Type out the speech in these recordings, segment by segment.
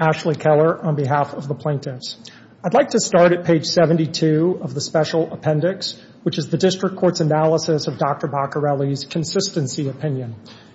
Ashley Keller on behalf of the Plaintiffs I'd like to start at page 72 of the special record to correct Dr. Poccarelli's consistency opinion.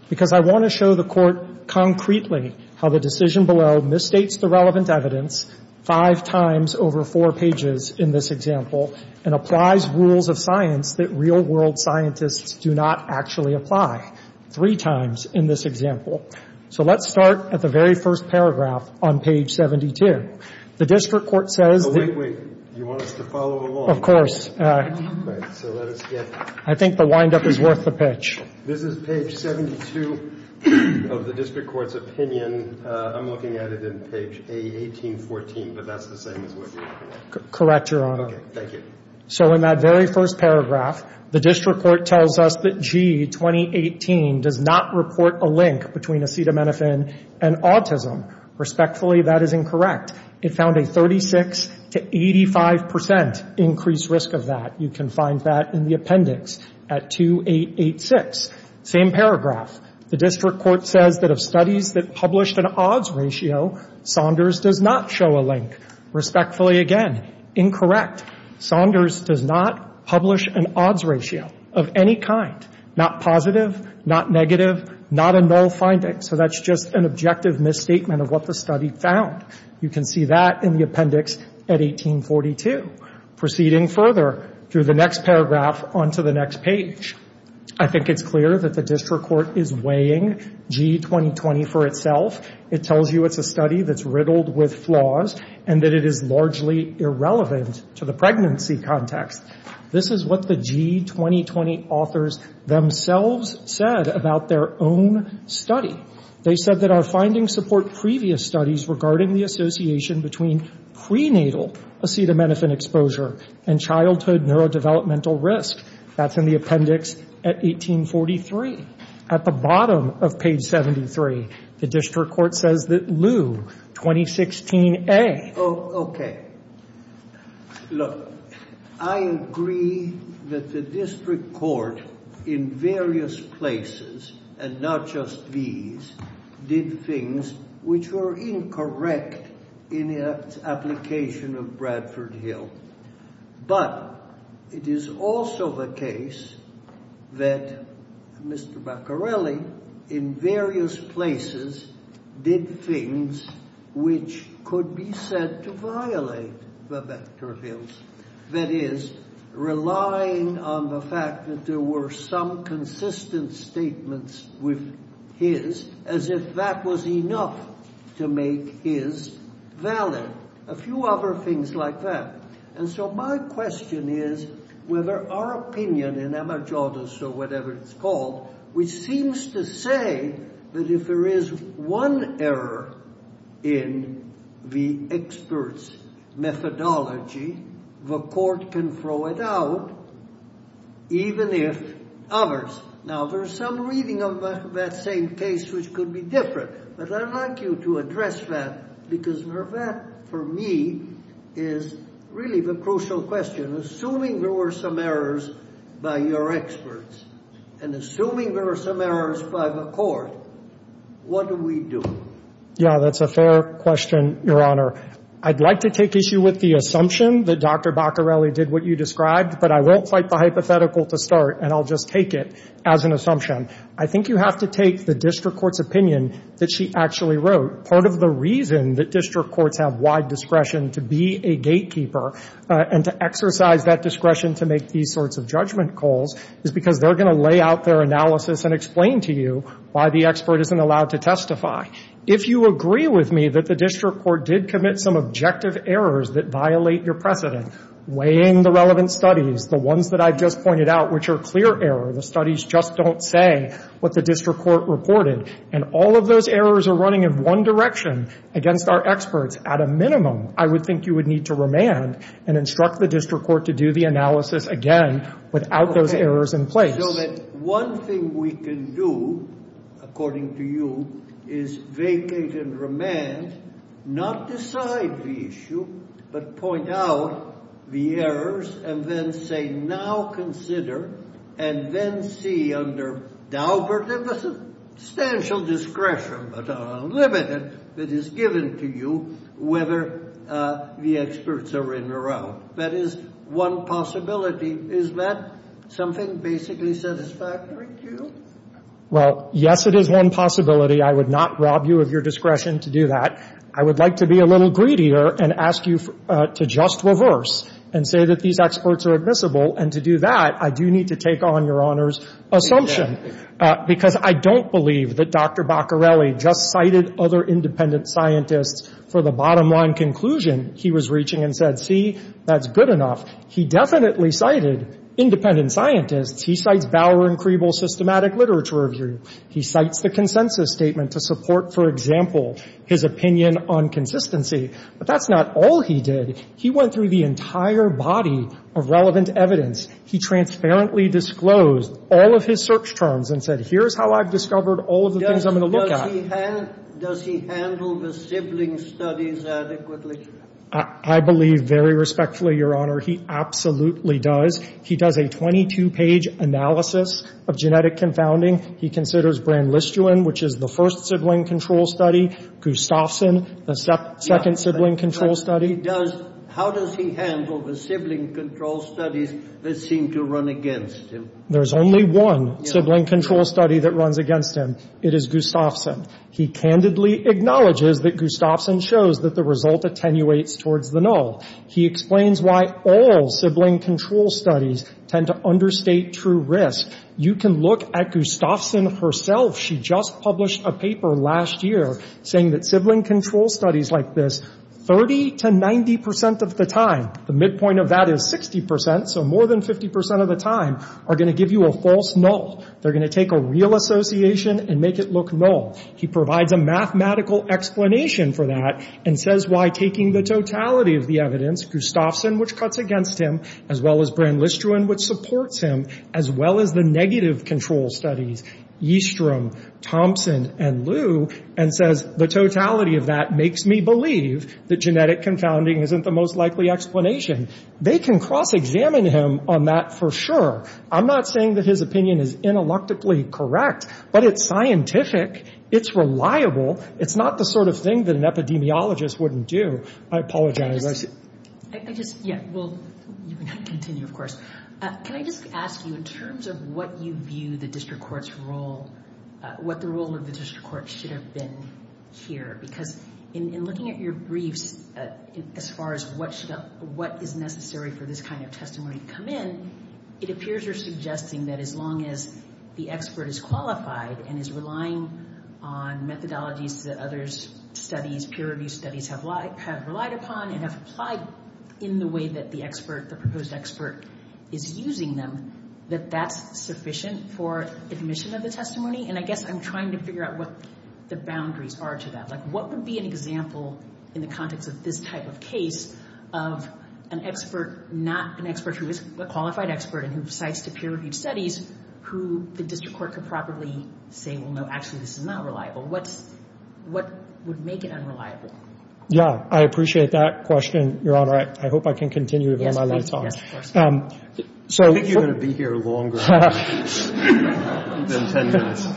Because I want to show the court concretely how the decision below misstates the relevant evidence 5 times over 4 pages in this example and applies rules of science that real world scientists do not actually apply, 3 times in this example. So let's start at the very first paragraph on page 72. The District Court says... Wait, wait. You want us to follow along? Of course. So let us get... I think the wind-up is worth the pitch. This is page 72 of the District Court's opinion. I'm looking at it in page A1814, but that's the same as what you're looking at. Correct, Your Honor. Okay, thank you. So in that very first paragraph, the District Court tells us that G, 2018, does not report a link between acetaminophen and autism. Respectfully, that is incorrect. It found a 36 to 85 percent increased risk of that. You can find that in the appendix at 2886. Same paragraph. The District Court says that of studies that published an odds ratio, Saunders does not show a link. Respectfully, again, incorrect. Saunders does not publish an odds ratio of any kind. Not positive, not negative, not a null finding. So that's just an objective misstatement of what the study found. You can see that in the appendix at 1842. Proceeding further through the next paragraph onto the next page, I think it's clear that the District Court is weighing G, 2020, for itself. It tells you it's a study that's riddled with flaws and that it is largely irrelevant to the pregnancy context. This is what the G, 2020, authors themselves said about their own study. They said that our findings support previous studies regarding the association between prenatal acetaminophen exposure and childhood neurodevelopmental risk. That's in the appendix at 1843. At the bottom of page 73, the District Court says that Lew, 2016A. OK. That is, relying on the fact that there were some consistent statements with his as if that was enough to make his valid. Now, there's some reading of that same case which could be different, but I'd like you to address that, because for that, I think it's important. For me, it's really the crucial question. Assuming there were some errors by your experts and assuming there were some errors by the court, what do we do? Yeah, that's a fair question, Your Honor. I'd like to take issue with the assumption that Dr. Baccarelli did what you described, but I won't fight the hypothetical to start and I'll just take it as an assumption. I think you have to take the District Court's opinion that she actually wrote. Part of the reason that District Courts have wide discretion to be a gatekeeper and to exercise that discretion to make these sorts of judgment calls is because they're going to lay out their analysis and explain to you why the expert isn't allowed to testify. If you agree with me that the District Court did commit some objective errors that violate your precedent, weighing the relevant studies, the ones that I've just pointed out, which are clear error, the studies just don't say what the District Court reported, and all of those errors are running in one direction against our experts, at a minimum, I would think you would need to remand and instruct the District Court to do the analysis again without those errors in place. So that one thing we can do, according to you, is vacate and remand, not decide the issue, but point out the errors and then say, now consider, and then see under doubtful, substantial discretion, but unlimited, that is given to you whether the experts are in or out. That is one possibility. Is that something basically satisfactory to you? Well, yes, it is one possibility. I would not rob you of your discretion to do that. I would like to be a little greedier and ask you to just reverse and say that these experts are admissible, and to do that, I do need to take on Your Honor's assumption. Because I don't believe that Dr. Baccarelli just cited other independent scientists for the bottom line conclusion he was reaching and said, see, that's good enough. He definitely cited independent scientists. He cites Bower and Creeble's systematic literature review. He cites the consensus statement to support, for example, his opinion on consistency. But that's not all he did. He went through the entire body of relevant evidence. He transparently disclosed all of his search terms and said, here's how I've discovered all of the things I'm going to look at. Does he handle the sibling studies adequately? I believe very respectfully, Your Honor, he absolutely does. He does a 22-page analysis of genetic confounding. He considers Brand-Listewin, which is the first sibling control study. Gustafson, the second sibling control study. But he does — how does he handle the sibling control studies that seem to run against him? There's only one sibling control study that runs against him. It is Gustafson. He candidly acknowledges that Gustafson shows that the result attenuates towards the null. He explains why all sibling control studies tend to understate true risk. You can look at Gustafson herself. She just published a paper last year saying that sibling control studies like this, 30 to 90 percent of the time, the midpoint of that is 60 percent, so more than 50 percent of the time, are going to give you a false null. They're going to take a real association and make it look null. He provides a mathematical explanation for that and says why taking the totality of the evidence, Gustafson, which cuts against him, as well as Brand-Listewin, which supports him, as well as the negative control studies, Yeastrom, Thompson, and Liu, and says the totality of that makes me believe that genetic confounding isn't the most likely explanation. They can cross-examine him on that for sure. I'm not saying that his opinion is intellectually correct, but it's scientific. It's reliable. It's not the sort of thing that an epidemiologist wouldn't do. I apologize. I just, yeah, well, you can continue, of course. Can I just ask you, in terms of what you view the district court's role, what the role of the district court should have been here? Because in looking at your briefs, as far as what is necessary for this kind of testimony to come in, it appears you're suggesting that as long as the expert is qualified and is relying on methodologies that others' studies, peer-reviewed studies, have relied upon and have applied in the way that the expert, the proposed expert, is using them, that that's sufficient for admission of the testimony? And I guess I'm trying to figure out what the boundaries are to that. Like, what would be an example in the context of this type of case of an expert, not an expert who is a qualified expert and who cites the peer-reviewed studies, who the district court could probably say, well, no, actually, this is not reliable? What would make it unreliable? Yeah. I appreciate that question, Your Honor. I hope I can continue to bear my lights on. Yes, of course. I think you're going to be here longer than 10 minutes.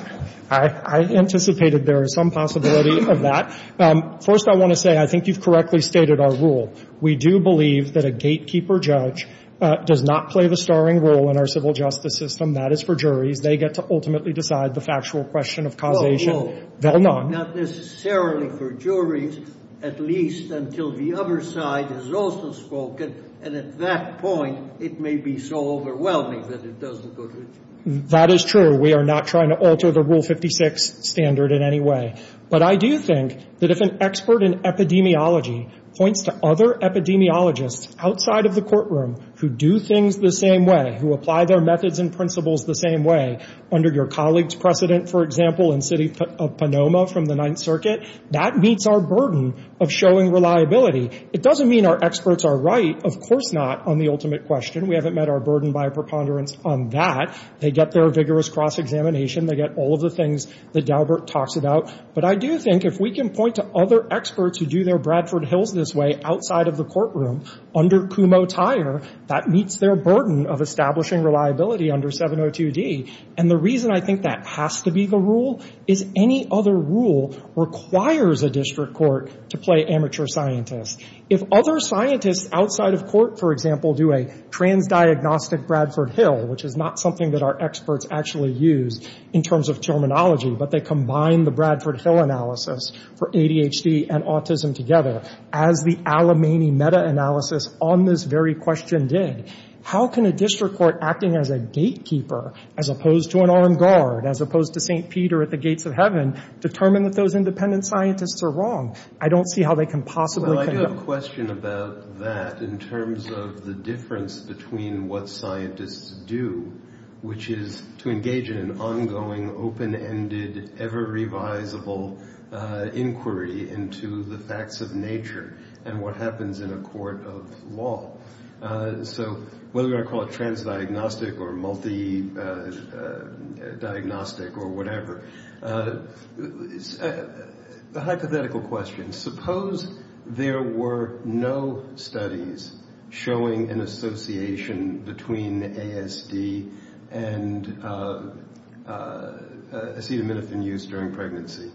I anticipated there was some possibility of that. First, I want to say I think you've correctly stated our rule. We do believe that a gatekeeper judge does not play the starring role in our civil justice system. That is for juries. They get to ultimately decide the factual question of causation. Not necessarily for juries, at least until the other side has also spoken, and at that point it may be so overwhelming that it doesn't go to jury. That is true. We are not trying to alter the Rule 56 standard in any way. But I do think that if an expert in epidemiology points to other epidemiologists outside of the courtroom who do things the same way, who apply their methods and principles the same way, under your colleague's precedent, for example, in City of Ponoma from the Ninth Circuit, that meets our burden of showing reliability. It doesn't mean our experts are right, of course not, on the ultimate question. We haven't met our burden by preponderance on that. They get their vigorous cross-examination. They get all of the things that Daubert talks about. But I do think if we can point to other experts who do their Bradford Hills this way outside of the courtroom, under Kumho-Tyre, that meets their burden of establishing reliability under 702D. And the reason I think that has to be the rule is any other rule requires a district court to play amateur scientist. If other scientists outside of court, for example, do a transdiagnostic Bradford Hill, which is not something that our experts actually use in terms of terminology, but they combine the Bradford Hill analysis for ADHD and autism together, as the Alimany meta-analysis on this very question did, how can a district court acting as a gatekeeper, as opposed to an armed guard, as opposed to St. Peter at the Gates of Heaven, determine that those independent scientists are wrong? I don't see how they can possibly come to that. between what scientists do, which is to engage in an ongoing, open-ended, ever-revisible inquiry into the facts of nature and what happens in a court of law. So whether you want to call it transdiagnostic or multidiagnostic or whatever, the hypothetical question, suppose there were no studies showing an association between ASD and acetaminophen use during pregnancy.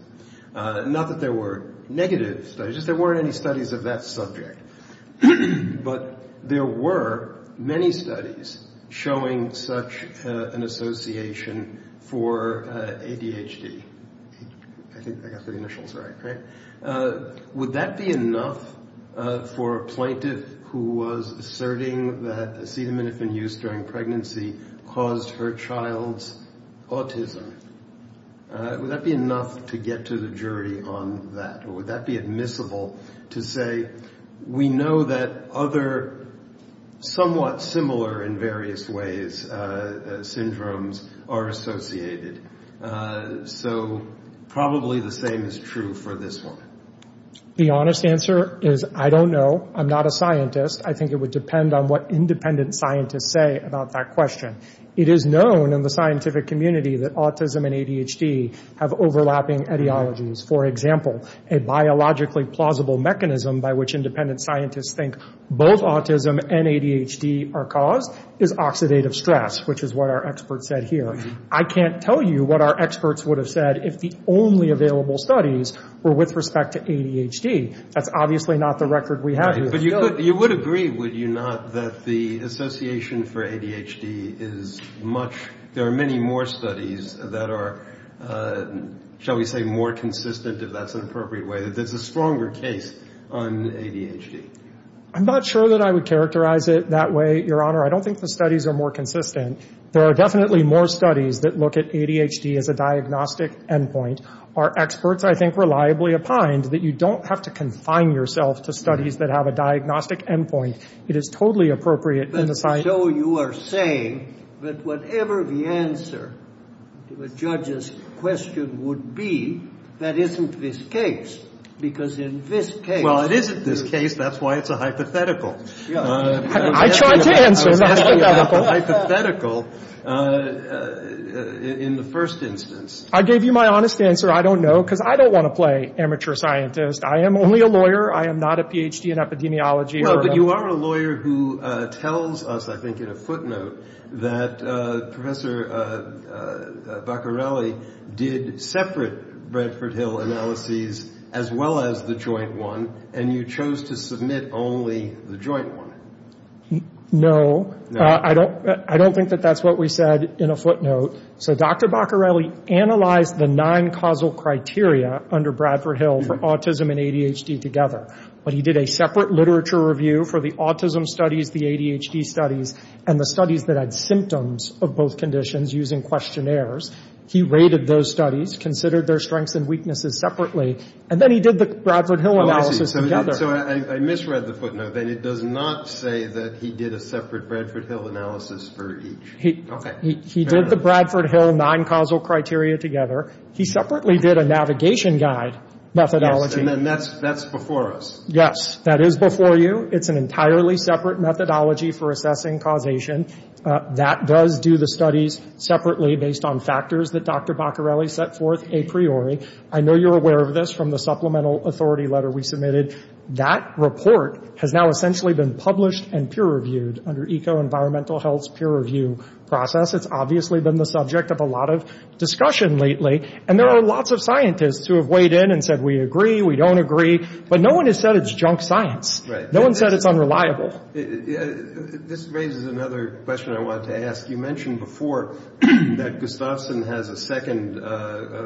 Not that there were negative studies, just there weren't any studies of that subject. But there were many studies showing such an association for ADHD. I think I got the initials right, right? Would that be enough for a plaintiff who was asserting that acetaminophen use during pregnancy caused her child's autism? Would that be enough to get to the jury on that? Or would that be admissible to say, we know that other, somewhat similar in various ways, syndromes are associated. So probably the same is true for this one. The honest answer is, I don't know. I'm not a scientist. I think it would depend on what independent scientists say about that question. It is known in the scientific community that autism and ADHD have overlapping etiologies. For example, a biologically plausible mechanism by which independent scientists think both autism and ADHD are caused is oxidative stress, which is what our expert said here. I can't tell you what our experts would have said if the only available studies were with respect to ADHD. That's obviously not the record we have. But you would agree, would you not, that the association for ADHD is much, there are many more studies that are, shall we say, more consistent, if that's an appropriate way, that there's a stronger case on ADHD? I'm not sure that I would characterize it that way, Your Honor. I don't think the studies are more consistent. There are definitely more studies that look at ADHD as a diagnostic endpoint. Our experts, I think, reliably opined that you don't have to confine yourself to studies that have a diagnostic endpoint. It is totally appropriate in the science. But so you are saying that whatever the answer to a judge's question would be, that isn't this case, because in this case. Well, it isn't this case. That's why it's a hypothetical. I tried to answer. Hypothetical in the first instance. I gave you my honest answer. I don't know, because I don't want to play amateur scientist. I am only a lawyer. I am not a Ph.D. in epidemiology. But you are a lawyer who tells us, I think in a footnote, that Professor Baccarelli did separate Bradford Hill analyses as well as the joint one, and you chose to submit only the joint one. No. I don't think that that's what we said in a footnote. So Dr. Baccarelli analyzed the nine causal criteria under Bradford Hill for autism and ADHD together. But he did a separate literature review for the autism studies, the ADHD studies, and the studies that had symptoms of both conditions using questionnaires. He rated those studies, considered their strengths and weaknesses separately, and then he did the Bradford Hill analysis together. So I misread the footnote, then. It does not say that he did a separate Bradford Hill analysis for each. Okay. He did the Bradford Hill nine causal criteria together. He separately did a navigation guide methodology. Yes. And then that's before us. Yes. That is before you. It's an entirely separate methodology for assessing causation. That does do the studies separately based on factors that Dr. Baccarelli set forth a priori. I know you're aware of this from the supplemental authority letter we submitted. That report has now essentially been published and peer-reviewed under Eco-Environmental Health's peer-review process. It's obviously been the subject of a lot of discussion lately. And there are lots of scientists who have weighed in and said, we agree, we don't agree. But no one has said it's junk science. Right. No one said it's unreliable. This raises another question I wanted to ask. You mentioned before that Gustafson has a second,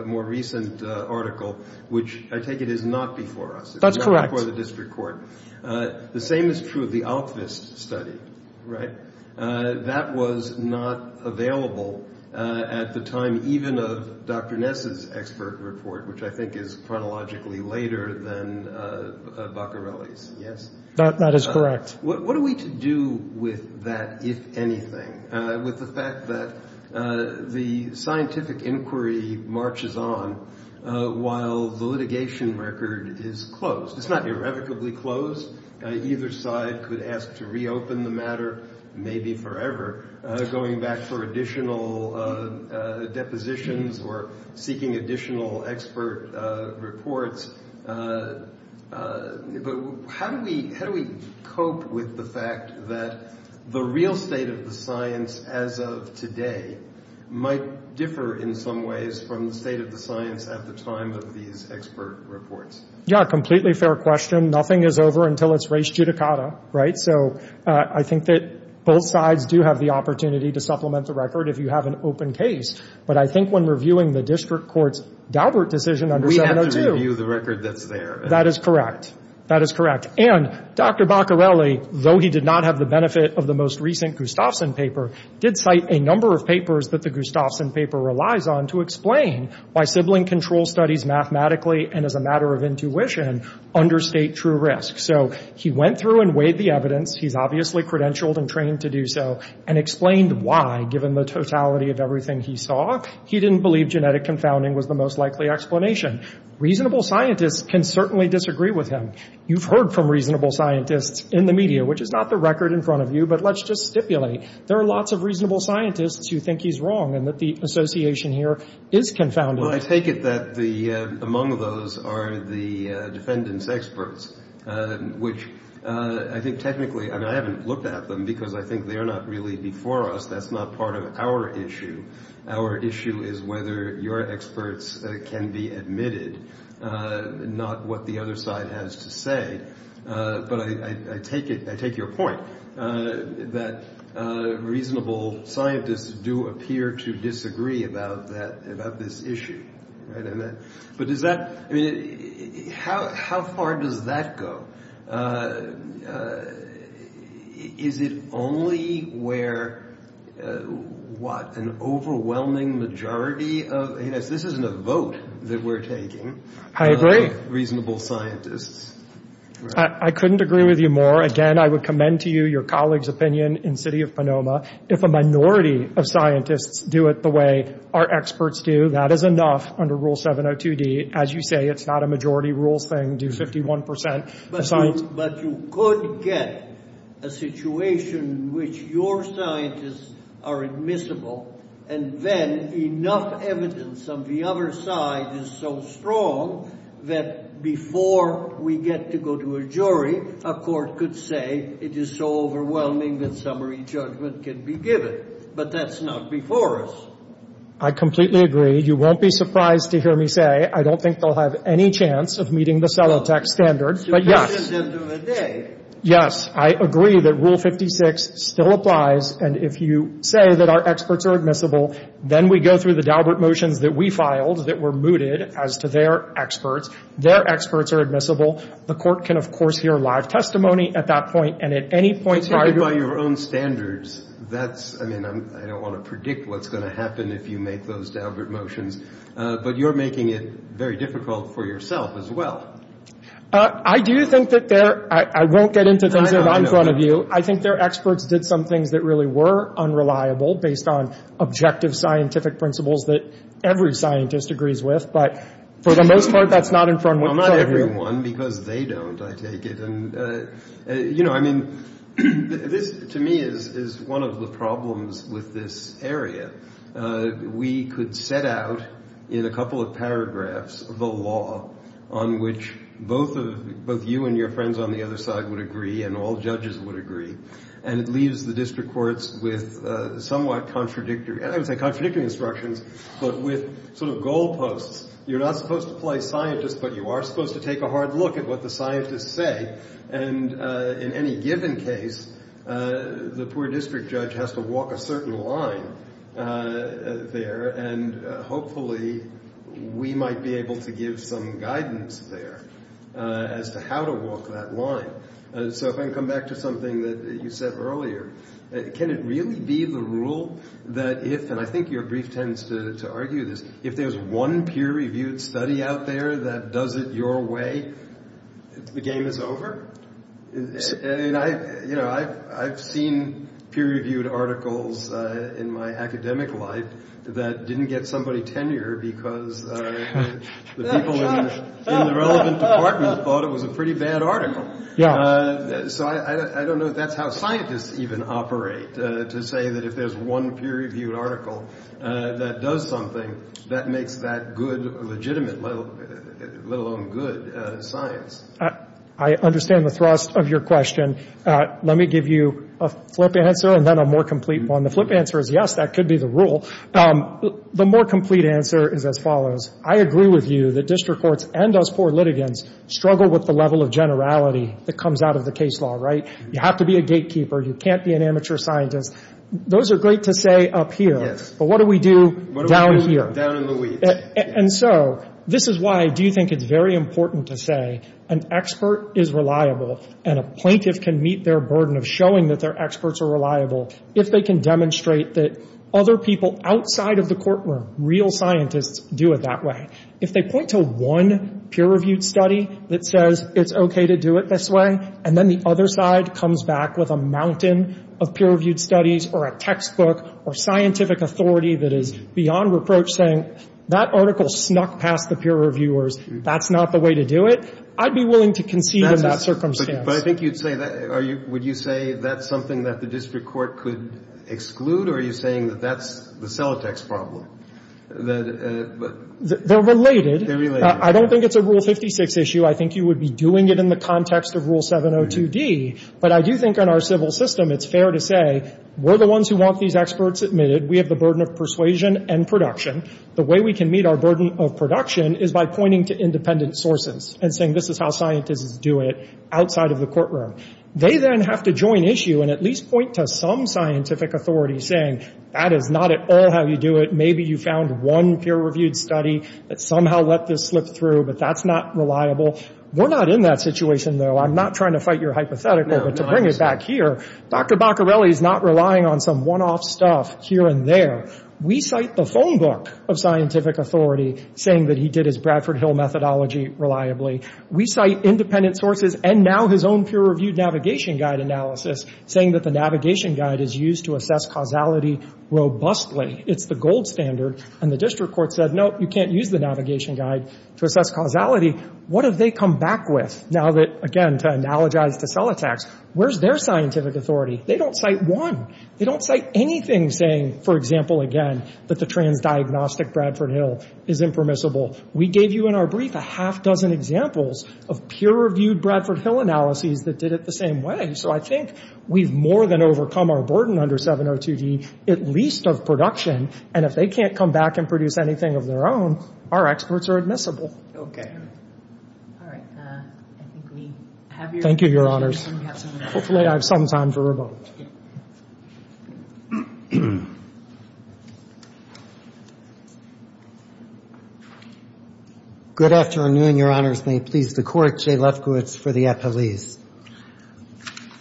more recent article, which I take it is not before us. That's correct. It's not before the district court. The same is true of the Alkvist study. Right. That was not available at the time even of Dr. Ness's expert report, which I think is chronologically later than Baccarelli's. Yes. That is correct. What are we to do with that, if anything, with the fact that the scientific inquiry marches on while the litigation record is closed? It's not irrevocably closed. Either side could ask to reopen the matter, maybe forever, going back for additional depositions or seeking additional expert reports. But how do we cope with the fact that the real state of the science as of today might differ in some ways from the state of the science at the time of these expert reports? Yeah, completely fair question. Nothing is over until it's res judicata. Right. So I think that both sides do have the opportunity to supplement the record if you have an open case. But I think when reviewing the district court's Daubert decision under 702. We have to review the record that's there. That is correct. That is correct. And Dr. Baccarelli, though he did not have the benefit of the most recent Gustafson paper, did cite a number of papers that the Gustafson paper relies on to explain why sibling control studies mathematically and as a matter of intuition understate true risk. So he went through and weighed the evidence. He's obviously credentialed and trained to do so and explained why, given the totality of everything he saw, he didn't believe genetic confounding was the most likely explanation. Reasonable scientists can certainly disagree with him. You've heard from reasonable scientists in the media, which is not the record in front of you, but let's just stipulate. There are lots of reasonable scientists who think he's wrong and that the association here is confounding. Well, I take it that the among those are the defendants experts, which I think technically I haven't looked at them because I think they are not really before us. That's not part of our issue. Our issue is whether your experts can be admitted, not what the other side has to say. But I take it. I take your point that reasonable scientists do appear to disagree about that, about this issue. But is that how how far does that go? Is it only where what an overwhelming majority of this isn't a vote that we're taking? I agree. Reasonable scientists. I couldn't agree with you more. Again, I would commend to you your colleagues opinion in city of Panama. If a minority of scientists do it the way our experts do, that is enough. Under Rule 702 D, as you say, it's not a majority rules thing. Do 51 percent. But you could get a situation in which your scientists are admissible. And then enough evidence on the other side is so strong that before we get to go to a jury, a court could say it is so overwhelming that summary judgment can be given. But that's not before us. I completely agree. You won't be surprised to hear me say I don't think they'll have any chance of meeting the cell attack standards. But yes, yes, I agree that Rule 56 still applies. And if you say that our experts are admissible, then we go through the Dalbert motions that we filed that were mooted as to their experts. Their experts are admissible. The court can, of course, hear live testimony at that point. And at any point by your own standards, that's I mean, I don't want to predict what's going to happen if you make those Dalbert motions. But you're making it very difficult for yourself as well. I do think that there I won't get into things that are in front of you. I think their experts did some things that really were unreliable based on objective scientific principles that every scientist agrees with. But for the most part, that's not in front of you. Not everyone, because they don't, I take it. And, you know, I mean, this to me is one of the problems with this area. We could set out in a couple of paragraphs the law on which both of both you and your friends on the other side would agree and all judges would agree. And it leaves the district courts with somewhat contradictory and I would say contradictory instructions. But with sort of goalposts, you're not supposed to play scientist, but you are supposed to take a hard look at what the scientists say. And in any given case, the poor district judge has to walk a certain line there. And hopefully we might be able to give some guidance there as to how to walk that line. So if I can come back to something that you said earlier, can it really be the rule that if and I think your brief tends to argue this, if there's one peer reviewed study out there that does it your way, the game is over. And I, you know, I've I've seen peer reviewed articles in my academic life that didn't get somebody tenure because the people in the relevant department thought it was a pretty bad article. Yeah. So I don't know if that's how scientists even operate to say that if there's one peer reviewed article that does something that makes that good legitimate, let alone good science. I understand the thrust of your question. Let me give you a flip answer and then a more complete one. The flip answer is yes, that could be the rule. The more complete answer is as follows. I agree with you that district courts and us poor litigants struggle with the level of generality that comes out of the case law. Right. You have to be a gatekeeper. You can't be an amateur scientist. Those are great to say up here. But what do we do down here? And so this is why I do think it's very important to say an expert is reliable and a plaintiff can meet their burden of showing that their experts are reliable. If they can demonstrate that other people outside of the courtroom, real scientists, do it that way. If they point to one peer reviewed study that says it's okay to do it this way and then the other side comes back with a mountain of peer reviewed studies or a textbook or scientific authority that is beyond reproach saying that article snuck past the peer reviewers. That's not the way to do it. I'd be willing to concede in that circumstance. But I think you'd say that. Would you say that's something that the district court could exclude? Or are you saying that that's the Celotex problem? They're related. They're related. I don't think it's a Rule 56 issue. I think you would be doing it in the context of Rule 702D. But I do think in our civil system it's fair to say we're the ones who want these experts admitted. We have the burden of persuasion and production. The way we can meet our burden of production is by pointing to independent sources and saying this is how scientists do it outside of the courtroom. They then have to join issue and at least point to some scientific authority saying that is not at all how you do it. Maybe you found one peer reviewed study that somehow let this slip through, but that's not reliable. We're not in that situation, though. I'm not trying to fight your hypothetical. But to bring it back here, Dr. Baccarelli is not relying on some one-off stuff here and there. We cite the phone book of scientific authority saying that he did his Bradford Hill methodology reliably. We cite independent sources and now his own peer reviewed navigation guide analysis saying that the navigation guide is used to assess causality robustly. It's the gold standard. And the district court said, no, you can't use the navigation guide to assess causality. What have they come back with? Now that, again, to analogize to Celotex, where's their scientific authority? They don't cite one. They don't cite anything saying, for example, again, that the transdiagnostic Bradford Hill is impermissible. We gave you in our brief a half dozen examples of peer reviewed Bradford Hill analyses that did it the same way. So I think we've more than overcome our burden under 702G, at least of production. And if they can't come back and produce anything of their own, our experts are admissible. All right. I think we have your questions. Thank you, Your Honors. Hopefully I have some time for a vote. Good afternoon, Your Honors. May it please the Court. Jay Lefkowitz for the appellees.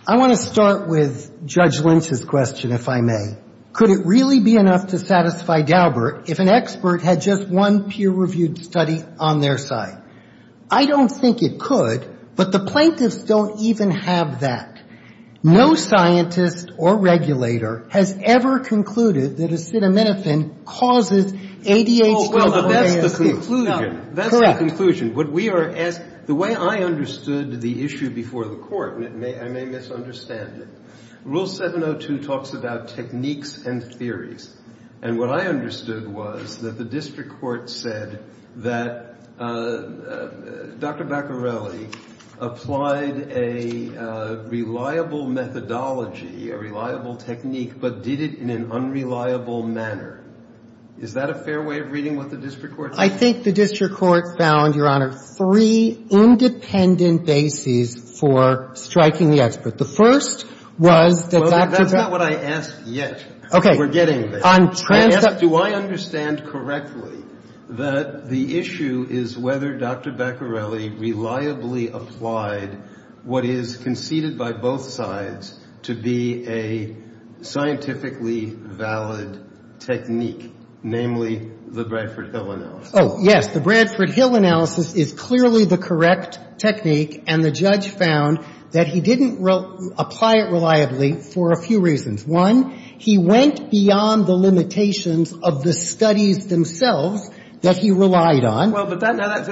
I want to start with Judge Lynch's question, if I may. Could it really be enough to satisfy Daubert if an expert had just one peer reviewed study on their side? I don't think it could. But the plaintiffs don't even have that. No scientist or regulator has ever concluded that acetaminophen causes ADH12 or ASU. Well, that's the conclusion. Correct. That's the conclusion. The way I understood the issue before the Court, and I may misunderstand it, Rule 702 talks about techniques and theories. And what I understood was that the district court said that Dr. Baccarelli applied a reliable methodology, a reliable technique, but did it in an unreliable manner. Is that a fair way of reading what the district court said? I think the district court found, Your Honor, three independent bases for striking the expert. The first was that Dr. Baccarelli – That's not what I asked yet. Okay. We're getting there. Do I understand correctly that the issue is whether Dr. Baccarelli reliably applied what is conceded by both sides to be a scientifically valid technique, namely the Bradford-Hill analysis? Oh, yes. The Bradford-Hill analysis is clearly the correct technique, and the judge found that he didn't apply it reliably for a few reasons. One, he went beyond the limitations of the studies themselves that he relied on. Well, but that's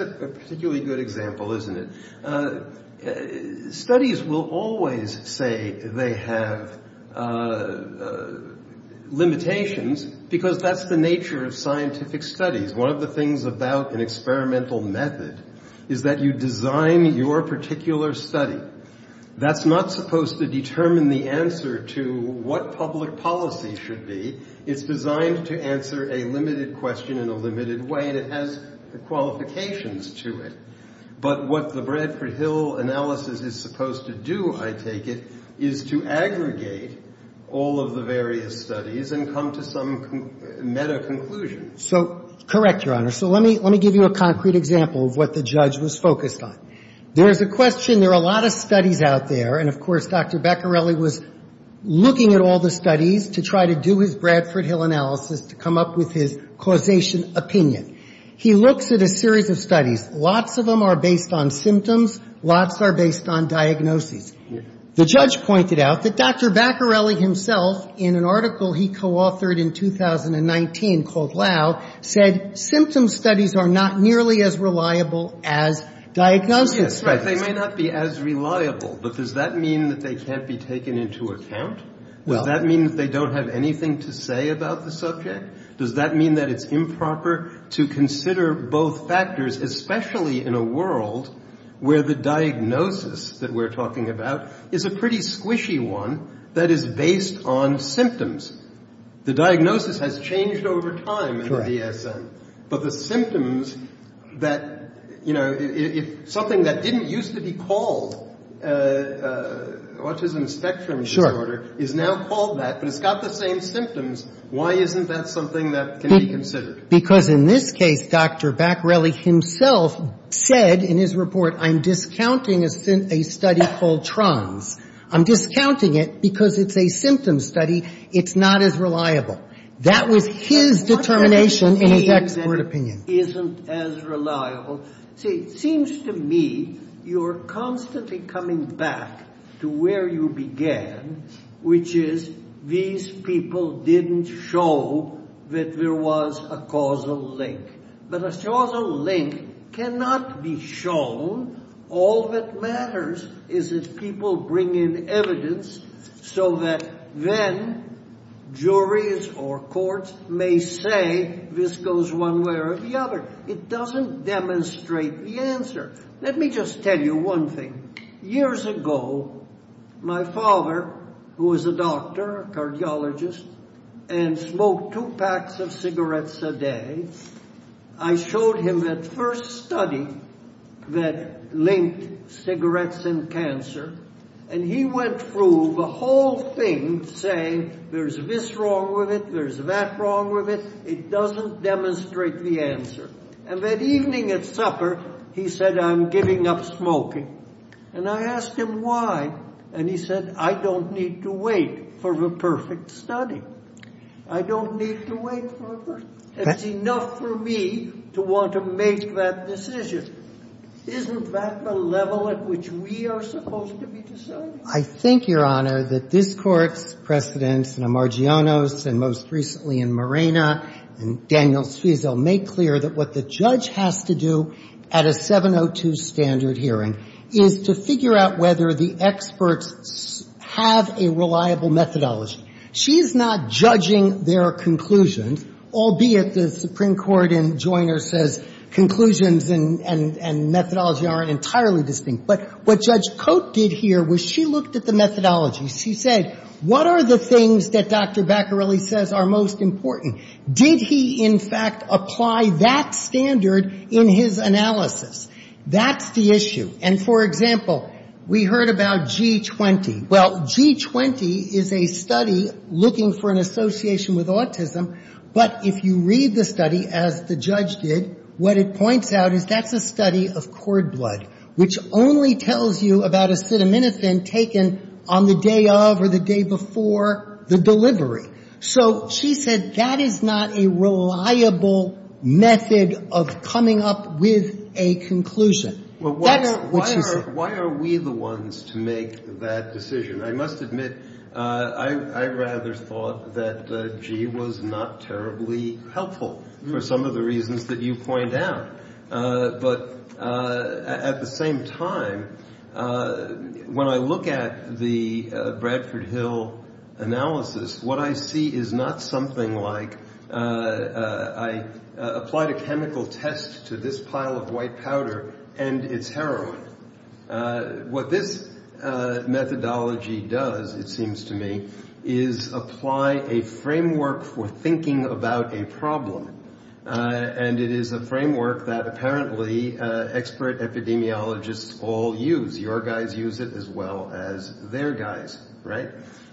a particularly good example, isn't it? Studies will always say they have limitations because that's the nature of scientific studies. One of the things about an experimental method is that you design your particular study. That's not supposed to determine the answer to what public policy should be. It's designed to answer a limited question in a limited way, and it has qualifications to it. But what the Bradford-Hill analysis is supposed to do, I take it, is to aggregate all of the various studies and come to some meta conclusion. So, correct, Your Honor. So let me give you a concrete example of what the judge was focused on. There's a question. There are a lot of studies out there, and, of course, Dr. Baccarelli was looking at all the studies to try to do his Bradford-Hill analysis to come up with his causation opinion. He looks at a series of studies. Lots of them are based on symptoms. Lots are based on diagnoses. The judge pointed out that Dr. Baccarelli himself, in an article he coauthored in 2019 called Lau, said symptom studies are not nearly as reliable as diagnosis studies. Yes. Right. They may not be as reliable, but does that mean that they can't be taken into account? Does that mean that they don't have anything to say about the subject? Does that mean that it's improper to consider both factors, especially in a world where the diagnosis that we're talking about is a pretty squishy one that is based on symptoms? The diagnosis has changed over time in the DSM, but the symptoms that, you know, if something that didn't used to be called autism spectrum disorder is now called that, but it's got the same symptoms, why isn't that something that can be considered? Because in this case Dr. Baccarelli himself said in his report, I'm discounting a study called TRANS. I'm discounting it because it's a symptom study. It's not as reliable. That was his determination in his expert opinion. It seems to me you're constantly coming back to where you began, which is these people didn't show that there was a causal link. But a causal link cannot be shown. All that matters is that people bring in evidence so that then juries or courts may say this goes one way or the other. It doesn't demonstrate the answer. Let me just tell you one thing. Years ago, my father, who was a doctor, a cardiologist, and smoked two packs of cigarettes a day, I showed him that first study that linked cigarettes and cancer, and he went through the whole thing saying there's this wrong with it, there's that wrong with it. It doesn't demonstrate the answer. And that evening at supper, he said, I'm giving up smoking. And I asked him why, and he said, I don't need to wait for the perfect study. I don't need to wait for it. It's enough for me to want to make that decision. Isn't that the level at which we are supposed to be deciding? I think, Your Honor, that this Court's precedents in Amargianos and most recently in Morena and Daniel Suizo make clear that what the judge has to do at a 702 standard hearing is to figure out whether the experts have a reliable methodology. She's not judging their conclusions, albeit the Supreme Court in Joyner says conclusions and methodology aren't entirely distinct. But what Judge Cote did here was she looked at the methodology. She said, what are the things that Dr. Bacarelli says are most important? Did he, in fact, apply that standard in his analysis? That's the issue. And, for example, we heard about G20. Well, G20 is a study looking for an association with autism. But if you read the study, as the judge did, what it points out is that's a study of cord blood, which only tells you about acetaminophen taken on the day of or the day before the delivery. So she said that is not a reliable method of coming up with a conclusion. Why are we the ones to make that decision? I must admit, I rather thought that G was not terribly helpful for some of the reasons that you point out. But at the same time, when I look at the Bradford Hill analysis, what I see is not something like, I applied a chemical test to this pile of white powder and it's heroin. What this methodology does, it seems to me, is apply a framework for thinking about a problem. And it is a framework that apparently expert epidemiologists all use. Your guys use it as well as their guys, right?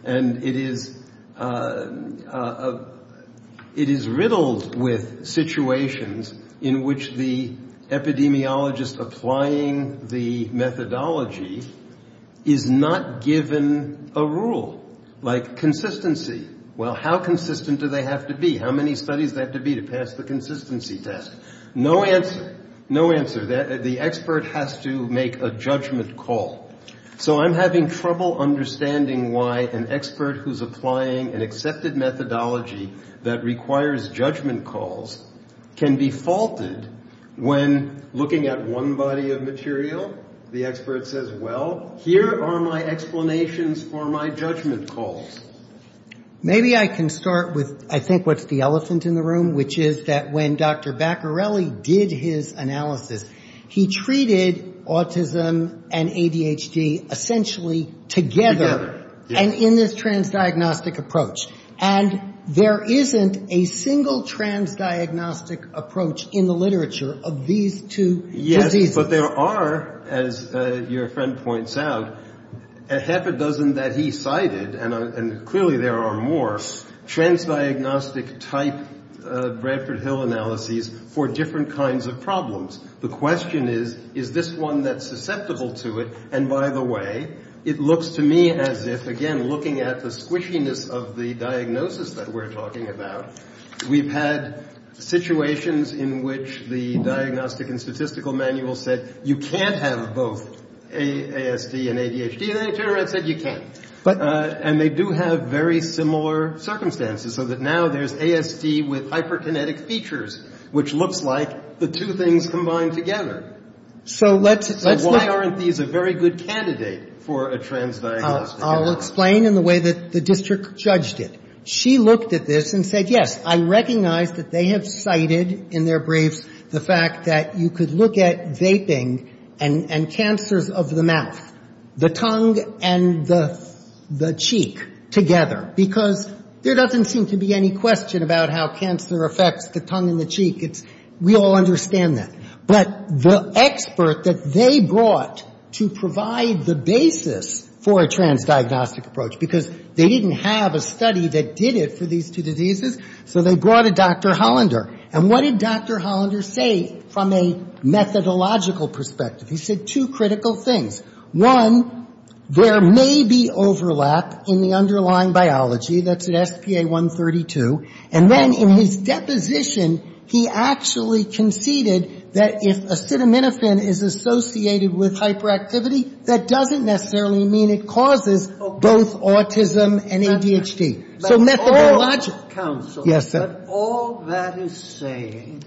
And it is riddled with situations in which the epidemiologist applying the methodology is not given a rule. Like consistency. Well, how consistent do they have to be? How many studies do they have to be to pass the consistency test? No answer. No answer. The expert has to make a judgment call. So I'm having trouble understanding why an expert who's applying an accepted methodology that requires judgment calls can be faulted when looking at one body of material. The expert says, well, here are my explanations for my judgment calls. Maybe I can start with I think what's the elephant in the room, which is that when Dr. Baccarelli did his analysis, he treated autism and ADHD essentially together. Together, yes. And in this transdiagnostic approach. And there isn't a single transdiagnostic approach in the literature of these two diseases. Yes, but there are, as your friend points out, half a dozen that he cited, and clearly there are more, transdiagnostic type Bradford Hill analyses for different kinds of problems. The question is, is this one that's susceptible to it? And, by the way, it looks to me as if, again, looking at the squishiness of the diagnosis that we're talking about, we've had situations in which the Diagnostic and Statistical Manual said you can't have both ASD and ADHD, and the Internet said you can. And they do have very similar circumstances, so that now there's ASD with hyperkinetic features, which looks like the two things combined together. So let's look. So why aren't these a very good candidate for a transdiagnostic? I'll explain in the way that the district judged it. She looked at this and said, yes, I recognize that they have cited in their briefs the fact that you could look at vaping and cancers of the mouth, the tongue and the cheek together, because there doesn't seem to be any question about how cancer affects the tongue and the cheek. We all understand that. But the expert that they brought to provide the basis for a transdiagnostic approach, because they didn't have a study that did it for these two diseases, so they brought a Dr. Hollander. And what did Dr. Hollander say from a methodological perspective? He said two critical things. One, there may be overlap in the underlying biology. That's at SPA-132. And then in his deposition, he actually conceded that if acetaminophen is associated with hyperactivity, that doesn't necessarily mean it causes both autism and ADHD. But all that is saying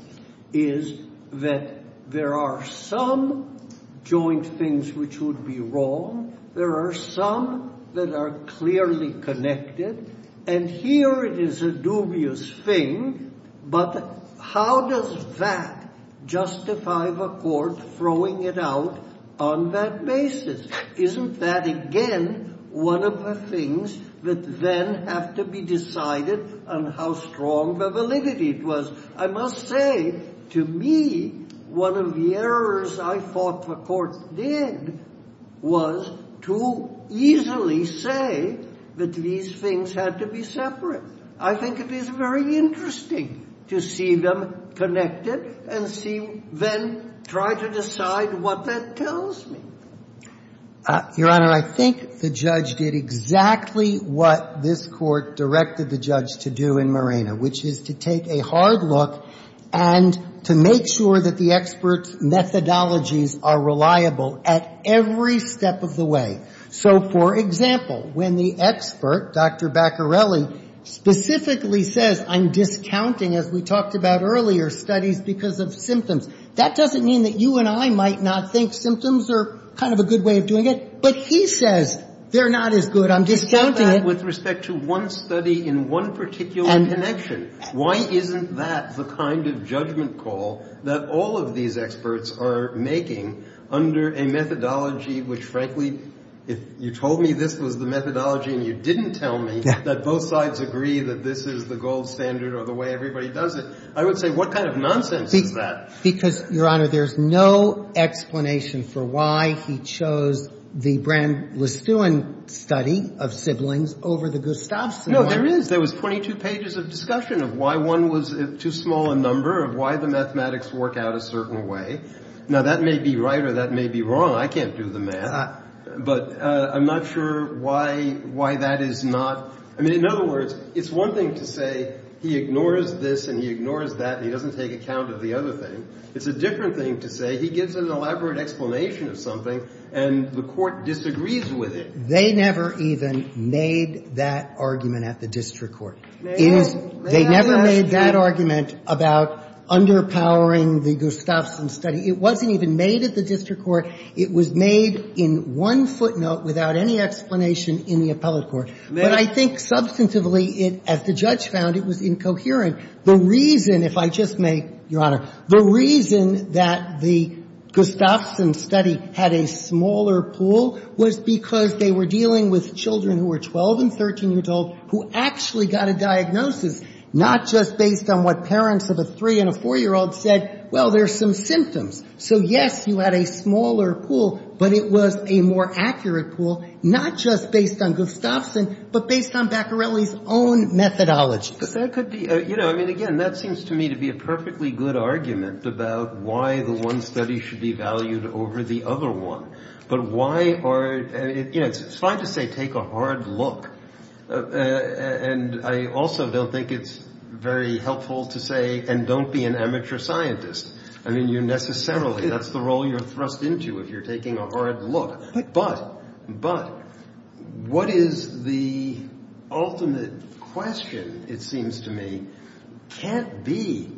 is that there are some joint things which would be wrong. There are some that are clearly connected. And here it is a dubious thing. But how does that justify the court throwing it out on that basis? Isn't that, again, one of the things that then have to be decided on how strong the validity was? I must say, to me, one of the errors I thought the court did was to easily say that these things had to be separate. I think it is very interesting to see them connected and then try to decide what that tells me. Your Honor, I think the judge did exactly what this court directed the judge to do in Morena, which is to take a hard look and to make sure that the expert's methodologies are reliable at every step of the way. So, for example, when the expert, Dr. Baccarelli, specifically says, I'm discounting, as we talked about earlier, studies because of symptoms, that doesn't mean that you and I might not think symptoms are kind of a good way of doing it. But he says they're not as good. I'm discounting it. And with respect to one study in one particular connection, why isn't that the kind of judgment call that all of these experts are making under a methodology which, frankly, if you told me this was the methodology and you didn't tell me that both sides agree that this is the gold standard or the way everybody does it, I would say what kind of nonsense is that? Because, Your Honor, there's no explanation for why he chose the Brand-Lestuin study of siblings over the Gustavson one. No, there is. There was 22 pages of discussion of why one was too small a number, of why the mathematics work out a certain way. Now, that may be right or that may be wrong. I can't do the math. But I'm not sure why that is not – I mean, in other words, it's one thing to say he ignores this and he ignores that and he doesn't take account of the other thing. It's a different thing to say he gives an elaborate explanation of something and the Court disagrees with it. They never even made that argument at the district court. It is – they never made that argument about underpowering the Gustavson study. It wasn't even made at the district court. It was made in one footnote without any explanation in the appellate court. But I think substantively it, as the judge found, it was incoherent. The reason, if I just may, Your Honor, the reason that the Gustavson study had a smaller pool was because they were dealing with children who were 12 and 13-year-olds who actually got a diagnosis, not just based on what parents of a 3- and a 4-year-old said, well, there's some symptoms. So, yes, you had a smaller pool, but it was a more accurate pool, not just based on Gustavson, but based on Baccarelli's own methodology. But that could be – you know, I mean, again, that seems to me to be a perfectly good argument about why the one study should be valued over the other one. But why are – you know, it's fine to say take a hard look, and I also don't think it's very helpful to say and don't be an amateur scientist. I mean, you necessarily – that's the role you're thrust into if you're taking a hard look. But what is the ultimate question, it seems to me, can't be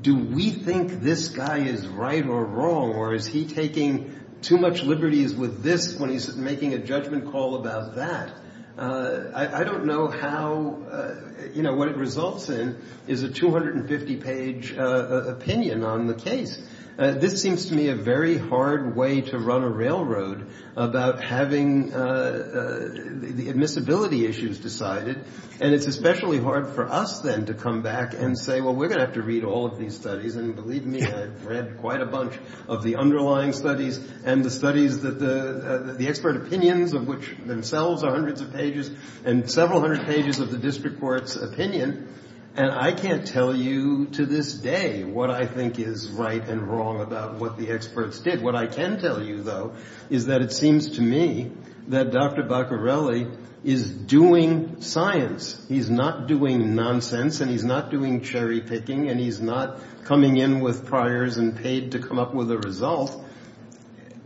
do we think this guy is right or wrong, or is he taking too much liberties with this when he's making a judgment call about that. I don't know how – you know, what it results in is a 250-page opinion on the case. This seems to me a very hard way to run a railroad about having the admissibility issues decided. And it's especially hard for us, then, to come back and say, well, we're going to have to read all of these studies. And believe me, I've read quite a bunch of the underlying studies and the studies that the – the expert opinions of which themselves are hundreds of pages and several hundred pages of the district court's opinion. And I can't tell you to this day what I think is right and wrong about what the experts did. What I can tell you, though, is that it seems to me that Dr. Baccarelli is doing science. He's not doing nonsense, and he's not doing cherry-picking, and he's not coming in with priors and paid to come up with a result.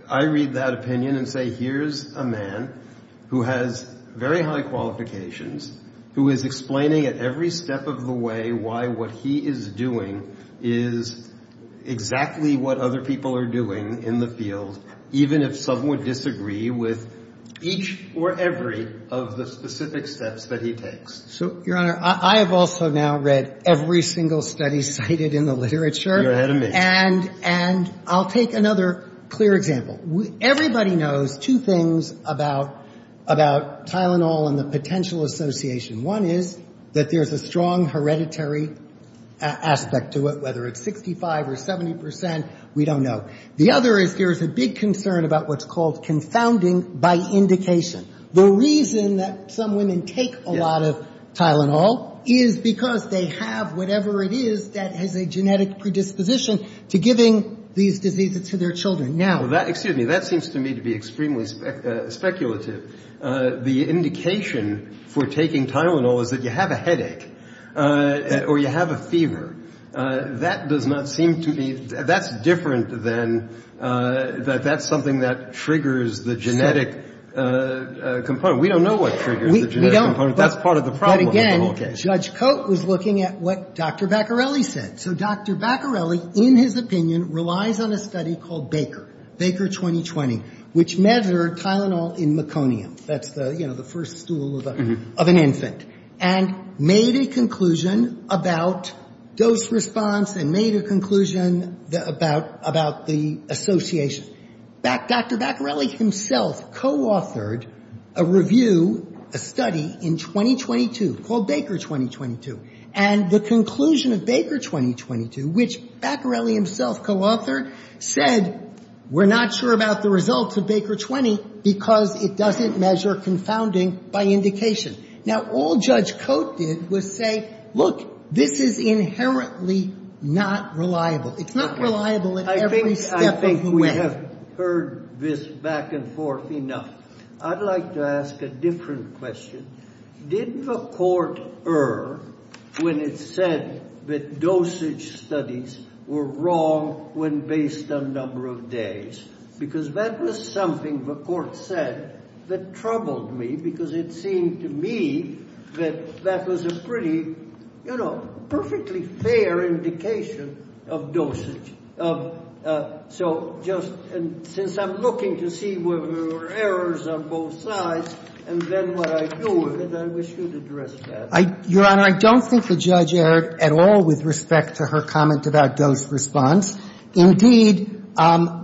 I read that opinion and say, here's a man who has very high qualifications, who is explaining at every step of the way why what he is doing is exactly what other people are doing in the field, even if some would disagree with each or every of the specific steps that he takes. So, Your Honor, I have also now read every single study cited in the literature. You're ahead of me. And I'll take another clear example. Everybody knows two things about Tylenol and the potential association. One is that there's a strong hereditary aspect to it, whether it's 65 or 70 percent, we don't know. The other is there's a big concern about what's called confounding by indication. The reason that some women take a lot of Tylenol is because they have whatever it is that has a genetic predisposition to giving these diseases to their children. Now that seems to me to be extremely speculative. The indication for taking Tylenol is that you have a headache or you have a fever. That does not seem to be — that's different than — that that's something that triggers the genetic component. We don't know what triggers the genetic component. That's part of the problem. But again, Judge Cote was looking at what Dr. Baccarelli said. So Dr. Baccarelli, in his opinion, relies on a study called Baker, Baker 2020, which measured Tylenol in meconium. That's the, you know, the first stool of an infant. And made a conclusion about dose response and made a conclusion about the association. Dr. Baccarelli himself coauthored a review, a study in 2022 called Baker 2022. And the conclusion of Baker 2022, which Baccarelli himself coauthored, said we're not sure about the results of Baker 20 because it doesn't measure confounding by indication. Now, all Judge Cote did was say, look, this is inherently not reliable. It's not reliable at every step of the way. I have heard this back and forth enough. I'd like to ask a different question. Did the court err when it said that dosage studies were wrong when based on number of days? Because that was something the court said that troubled me because it seemed to me that that was a pretty, you know, perfectly fair indication of dosage. So just since I'm looking to see whether there were errors on both sides and then what I do with it, I wish you'd address that. Your Honor, I don't think the judge erred at all with respect to her comment about dose response. Indeed,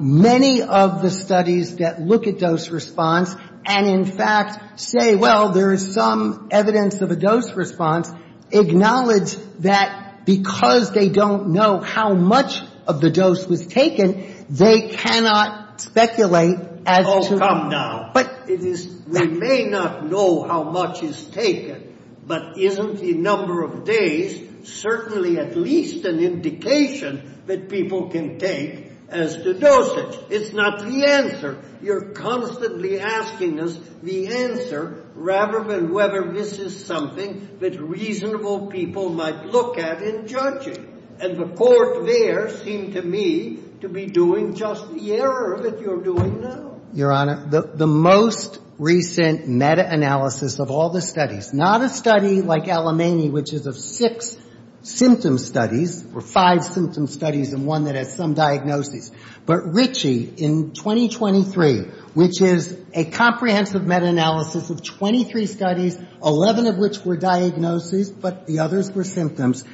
many of the studies that look at dose response and, in fact, say, well, there is some evidence of a dose response, acknowledge that because they don't know how much of the dose was taken, they cannot speculate as to. Oh, come now. But it is. We may not know how much is taken, but isn't the number of days certainly at least an indication that people can take as to dosage? It's not the answer. You're constantly asking us the answer rather than whether this is something that reasonable people might look at in judging. And the court there seemed to me to be doing just the error that you're doing now. Your Honor, the most recent meta-analysis of all the studies, not a study like Alimany, which is of six symptom studies or five symptom studies and one that has some diagnosis, but Ritchie in 2023, which is a comprehensive meta-analysis of 23 studies, 11 of which were diagnosis, but the others were symptoms,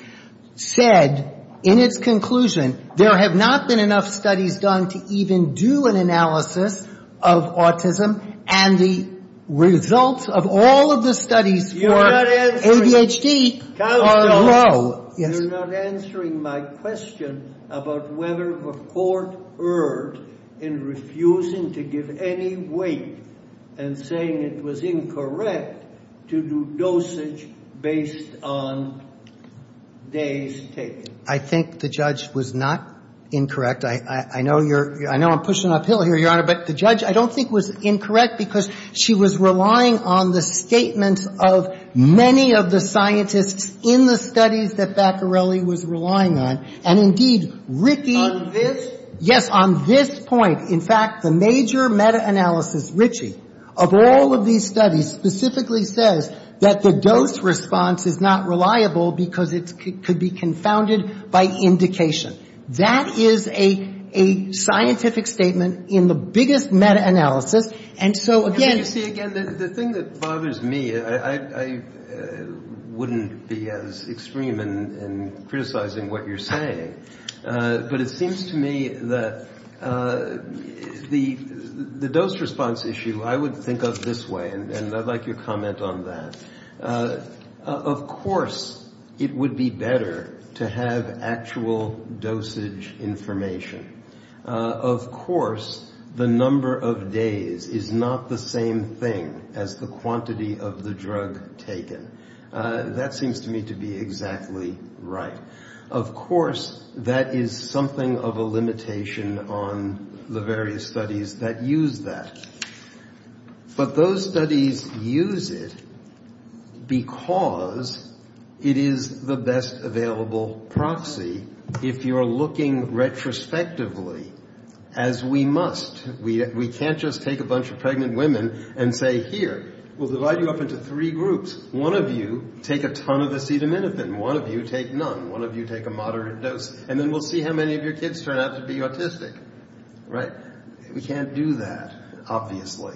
said in its conclusion there have not been enough studies done to even do an analysis of autism, and the results of all of the studies for ADHD are low. You're not answering my question about whether the court erred in refusing to give any weight and saying it was incorrect to do dosage based on days taken. I think the judge was not incorrect. I know you're – I know I'm pushing uphill here, Your Honor, but the judge I don't think was incorrect because she was relying on the statements of many of the scientists in the studies that Baccarelli was relying on. And indeed, Ritchie – On this? Yes, on this point. In fact, the major meta-analysis, Ritchie, of all of these studies specifically says that the dose response is not reliable because it could be confounded by indication. That is a scientific statement in the biggest meta-analysis, and so again – You see, again, the thing that bothers me, I wouldn't be as extreme in criticizing what you're saying, but it seems to me that the dose response issue I would think of this way, and I'd like your comment on that. Of course it would be better to have actual dosage information. Of course the number of days is not the same thing as the quantity of the drug taken. That seems to me to be exactly right. Of course that is something of a limitation on the various studies that use that. But those studies use it because it is the best available proxy, if you're looking retrospectively, as we must. We can't just take a bunch of pregnant women and say, here, we'll divide you up into three groups. One of you take a ton of acetaminophen, one of you take none, one of you take a moderate dose, and then we'll see how many of your kids turn out to be autistic. We can't do that, obviously.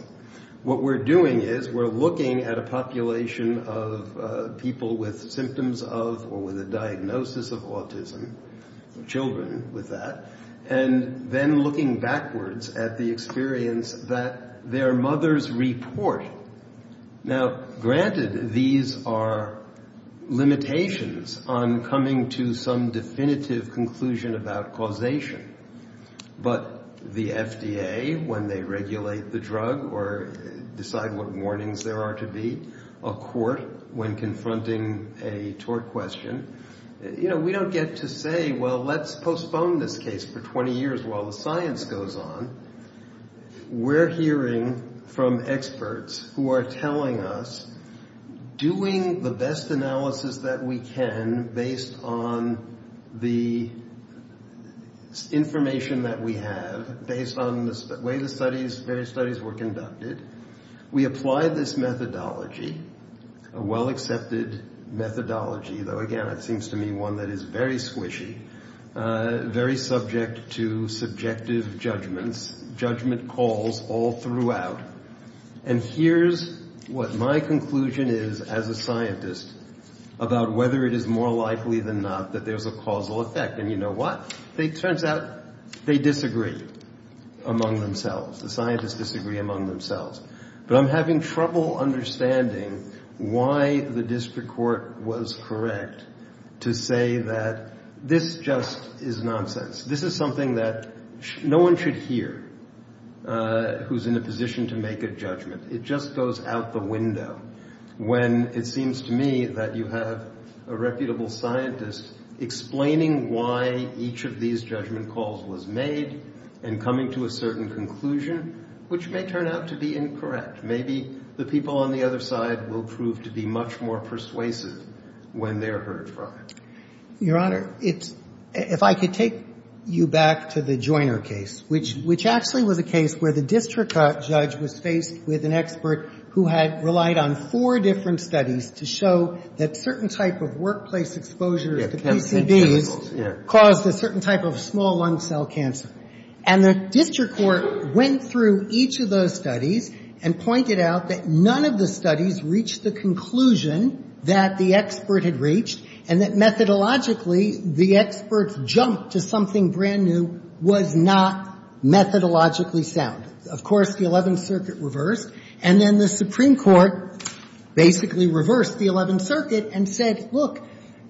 What we're doing is we're looking at a population of people with symptoms of or with a diagnosis of autism, children with that, and then looking backwards at the experience that their mothers report. Now, granted, these are limitations on coming to some definitive conclusion about causation. But the FDA, when they regulate the drug or decide what warnings there are to be, a court, when confronting a tort question, you know, we don't get to say, well, let's postpone this case for 20 years while the science goes on. We're hearing from experts who are telling us, doing the best analysis that we can based on the information that we have, based on the way the studies, various studies were conducted, we apply this methodology, a well-accepted methodology, though, again, it seems to me one that is very squishy, very subject to subjective judgments, judgment calls all throughout. And here's what my conclusion is as a scientist about whether it is more likely than not that there's a causal effect. And you know what? It turns out they disagree among themselves. The scientists disagree among themselves. But I'm having trouble understanding why the district court was correct to say that this just is nonsense. This is something that no one should hear who's in a position to make a judgment. It just goes out the window when it seems to me that you have a reputable scientist explaining why each of these judgment calls was made and coming to a certain conclusion, which may turn out to be incorrect. Maybe the people on the other side will prove to be much more persuasive when they're heard from. Your Honor, if I could take you back to the Joyner case, which actually was a case where the district judge was faced with an expert who had relied on four different studies to show that certain type of workplace exposure to PCBs caused a certain type of small lung cell cancer. And the district court went through each of those studies and pointed out that none of the studies reached the conclusion that the expert had reached and that methodologically the expert's jump to something brand new was not methodologically sound. Of course, the Eleventh Circuit reversed. And then the Supreme Court basically reversed the Eleventh Circuit and said, look,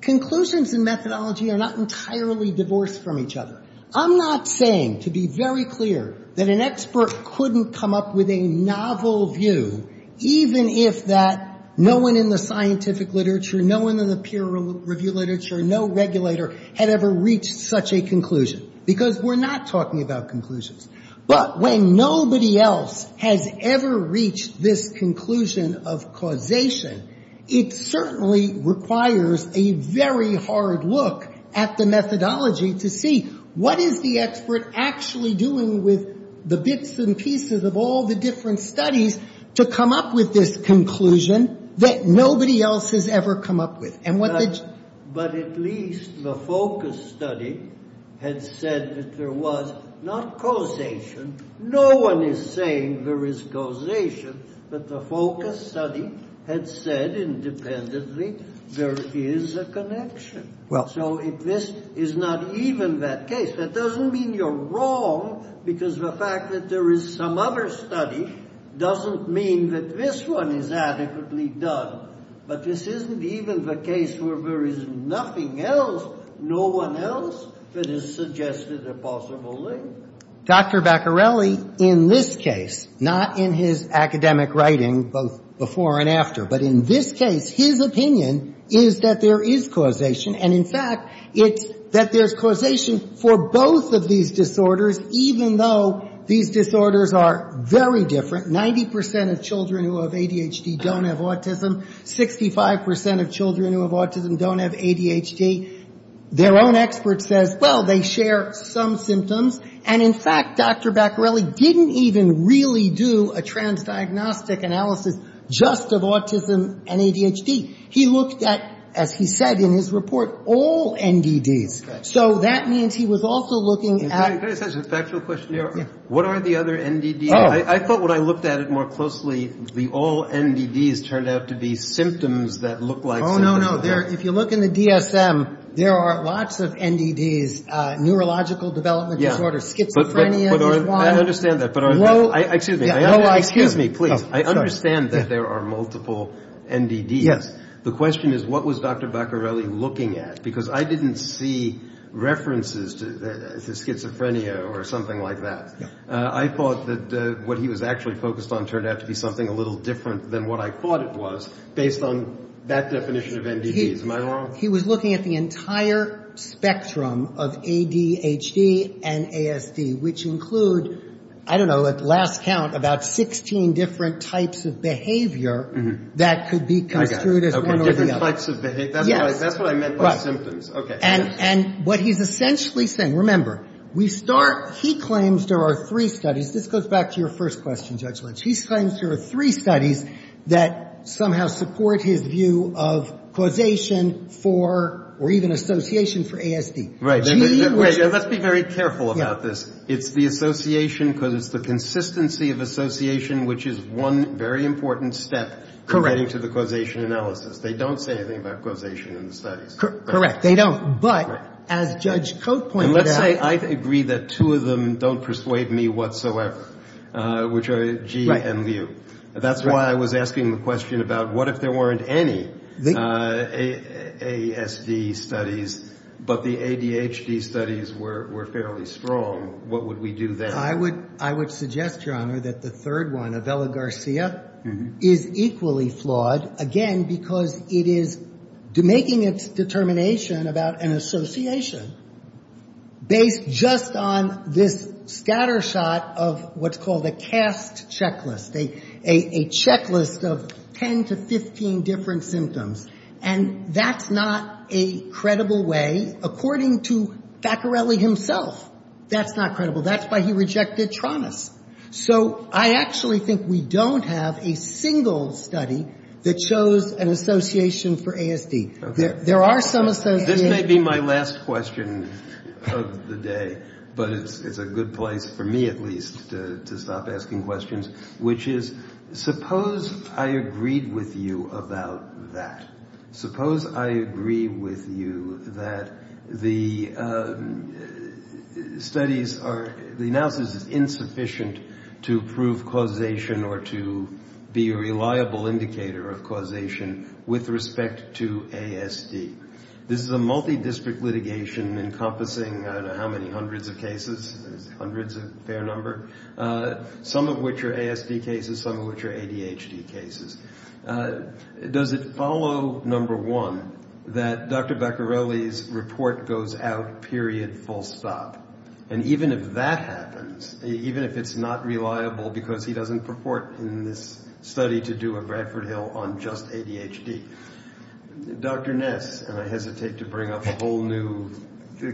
conclusions and methodology are not entirely divorced from each other. I'm not saying, to be very clear, that an expert couldn't come up with a novel view, even if that no one in the scientific literature, no one in the peer review literature, no regulator had ever reached such a conclusion, because we're not talking about conclusions. But when nobody else has ever reached this conclusion of causation, it certainly requires a very hard look at the methodology to see what is the expert actually doing with the bits and pieces of all the different studies to come up with this conclusion that nobody else has ever come up with. But at least the focus study had said that there was not causation. No one is saying there is causation, but the focus study had said independently there is a connection. So if this is not even that case, that doesn't mean you're wrong, because the fact that there is some other study doesn't mean that this one is adequately done. But this isn't even the case where there is nothing else, no one else, that has suggested a possible link. Dr. Baccarelli, in this case, not in his academic writing, both before and after, but in this case, his opinion is that there is causation. And, in fact, it's that there's causation for both of these disorders, even though these disorders are very different. Ninety percent of children who have ADHD don't have autism. Sixty-five percent of children who have autism don't have ADHD. Their own expert says, well, they share some symptoms. And, in fact, Dr. Baccarelli didn't even really do a transdiagnostic analysis just of autism and ADHD. He looked at, as he said in his report, all NDDs. So that means he was also looking at the other NDDs. I thought when I looked at it more closely, the all NDDs turned out to be symptoms that looked like symptoms. No, no, if you look in the DSM, there are lots of NDDs. Neurological development disorders, schizophrenia. I understand that. Excuse me, please. I understand that there are multiple NDDs. The question is, what was Dr. Baccarelli looking at? Because I didn't see references to schizophrenia or something like that. I thought that what he was actually focused on turned out to be something a little different than what I thought it was, based on that definition of NDDs. Am I wrong? He was looking at the entire spectrum of ADHD and ASD, which include, I don't know, at last count, about 16 different types of behavior that could be construed as one or the other. Okay, different types of behavior. Yes. That's what I meant by symptoms. Right. Okay. And what he's essentially saying, remember, we start, he claims there are three studies. This goes back to your first question, Judge Lynch. He claims there are three studies that somehow support his view of causation for or even association for ASD. Let's be very careful about this. It's the association because it's the consistency of association, which is one very important step. Correct. In getting to the causation analysis. They don't say anything about causation in the studies. Correct. They don't. But as Judge Cote pointed out. And let's say I agree that two of them don't persuade me whatsoever, which are Gee and Liu. That's why I was asking the question about what if there weren't any ASD studies, but the ADHD studies were fairly strong. What would we do then? I would suggest, Your Honor, that the third one, Avella-Garcia, is equally flawed. Again, because it is making its determination about an association based just on this scattershot of what's called a caste checklist. A checklist of 10 to 15 different symptoms. And that's not a credible way, according to Faccarelli himself. That's not credible. That's why he rejected TRANAS. So I actually think we don't have a single study that shows an association for ASD. There are some associations. This may be my last question of the day. But it's a good place, for me at least, to stop asking questions, which is suppose I agreed with you about that. Suppose I agree with you that the analysis is insufficient to prove causation or to be a reliable indicator of causation with respect to ASD. This is a multidistrict litigation encompassing I don't know how many hundreds of cases. Hundreds is a fair number. Some of which are ASD cases. Some of which are ADHD cases. Does it follow, number one, that Dr. Faccarelli's report goes out, period, full stop? And even if that happens, even if it's not reliable because he doesn't purport in this study to do a Bradford Hill on just ADHD, Dr. Ness, and I hesitate to bring up a whole new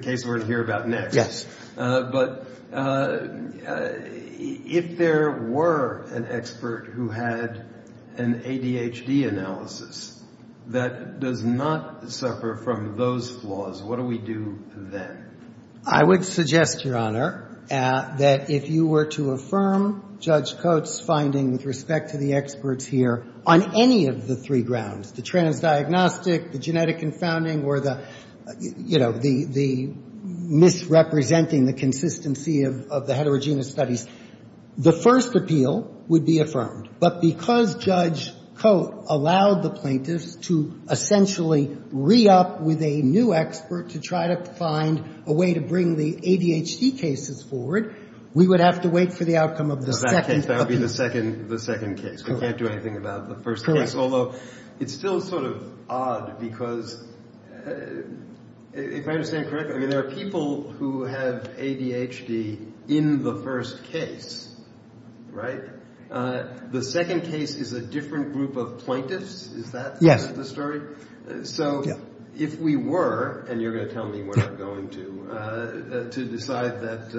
case we're going to hear about next. Yes. But if there were an expert who had an ADHD analysis that does not suffer from those flaws, what do we do then? I would suggest, Your Honor, that if you were to affirm Judge Coates' finding with respect to the experts here on any of the three grounds, the transdiagnostic, the genetic confounding, or the, you know, the misrepresenting the consistency of the heterogeneous studies, the first appeal would be affirmed. But because Judge Coates allowed the plaintiffs to essentially re-up with a new expert to try to find a way to bring the ADHD cases forward, we would have to wait for the outcome of the second appeal. That would be the second case. Correct. We can't do anything about the first case. Although it's still sort of odd because, if I understand correctly, there are people who have ADHD in the first case, right? The second case is a different group of plaintiffs. Is that the story? So if we were, and you're going to tell me where I'm going to, to decide that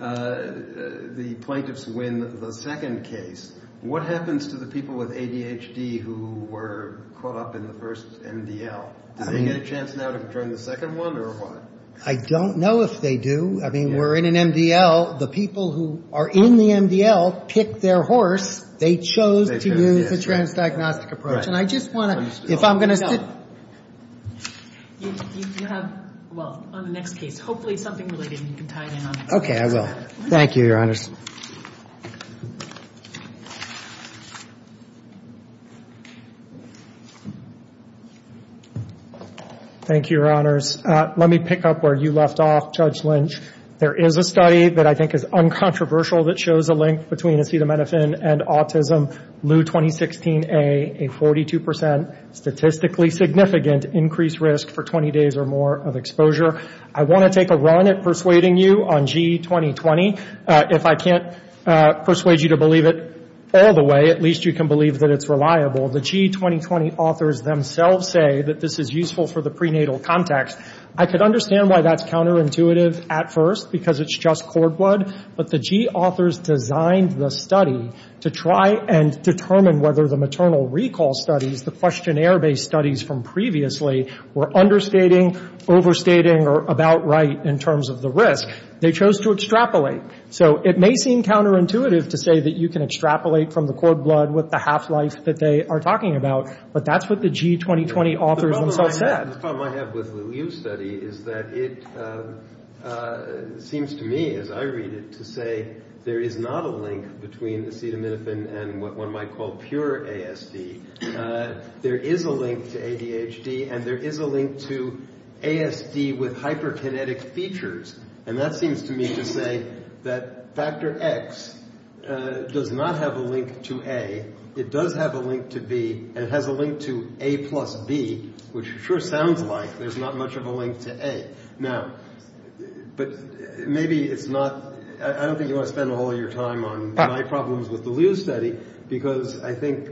the plaintiffs win the second case, what happens to the people with ADHD who were caught up in the first MDL? Do they get a chance now to join the second one, or what? I don't know if they do. I mean, we're in an MDL. The people who are in the MDL pick their horse. They chose to use the transdiagnostic approach. And I just want to, if I'm going to... You have, well, on the next case, hopefully something related, and you can tie it in on that. Okay, I will. Thank you, Your Honors. Thank you. Thank you, Your Honors. Let me pick up where you left off, Judge Lynch. There is a study that I think is uncontroversial that shows a link between acetaminophen and autism, LEU 2016A, a 42% statistically significant increased risk for 20 days or more of exposure. I want to take a run at persuading you on G2020. If I can't persuade you to believe it all the way, at least you can believe that it's reliable. The G2020 authors themselves say that this is useful for the prenatal context. I could understand why that's counterintuitive at first, because it's just cord blood. But the G authors designed the study to try and determine whether the maternal recall studies, the questionnaire-based studies from previously, were understating, overstating, or about right in terms of the risk. They chose to extrapolate. So it may seem counterintuitive to say that you can extrapolate from the cord blood with the half-life that they are talking about, but that's what the G2020 authors themselves said. The problem I have with the LEU study is that it seems to me, as I read it, to say there is not a link between acetaminophen and what one might call pure ASD. There is a link to ADHD, and there is a link to ASD with hyperkinetic features. And that seems to me to say that factor X does not have a link to A. It does have a link to B, and it has a link to A plus B, which sure sounds like there's not much of a link to A. Now, but maybe it's not – I don't think you want to spend all your time on my problems with the LEU study, because I think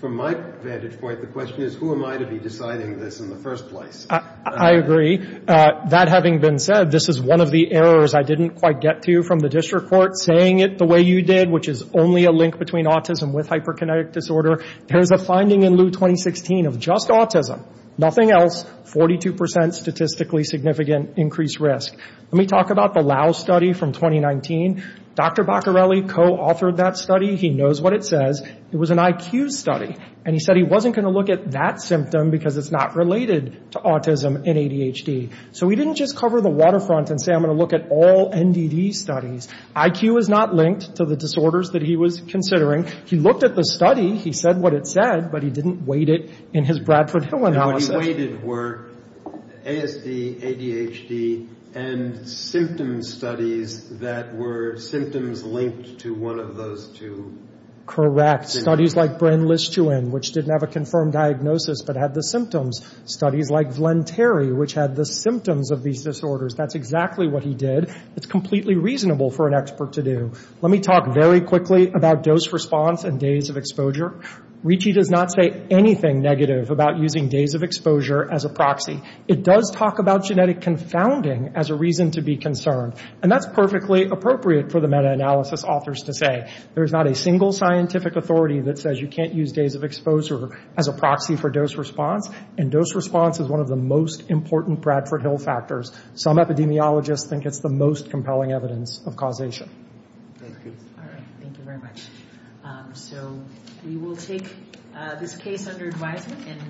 from my vantage point, the question is who am I to be deciding this in the first place. I agree. That having been said, this is one of the errors I didn't quite get to from the district court, saying it the way you did, which is only a link between autism with hyperkinetic disorder. There is a finding in LEU 2016 of just autism, nothing else, 42 percent statistically significant increased risk. Let me talk about the Lau study from 2019. Dr. Baccarelli co-authored that study. He knows what it says. It was an IQ study. And he said he wasn't going to look at that symptom because it's not related to autism and ADHD. So he didn't just cover the waterfront and say, I'm going to look at all NDD studies. IQ is not linked to the disorders that he was considering. He looked at the study. He said what it said, but he didn't weight it in his Bradford Hill analysis. And what he weighted were ASD, ADHD, and symptom studies that were symptoms linked to one of those two. Correct. Studies like Brin-Lischuin, which didn't have a confirmed diagnosis but had the symptoms. Studies like Vlentary, which had the symptoms of these disorders. That's exactly what he did. It's completely reasonable for an expert to do. Let me talk very quickly about dose response and days of exposure. Ricci does not say anything negative about using days of exposure as a proxy. It does talk about genetic confounding as a reason to be concerned. And that's perfectly appropriate for the meta-analysis authors to say. There's not a single scientific authority that says you can't use days of exposure as a proxy for dose response. And dose response is one of the most important Bradford Hill factors. Some epidemiologists think it's the most compelling evidence of causation. Thank you. All right. Thank you very much. So we will take this case under advisement.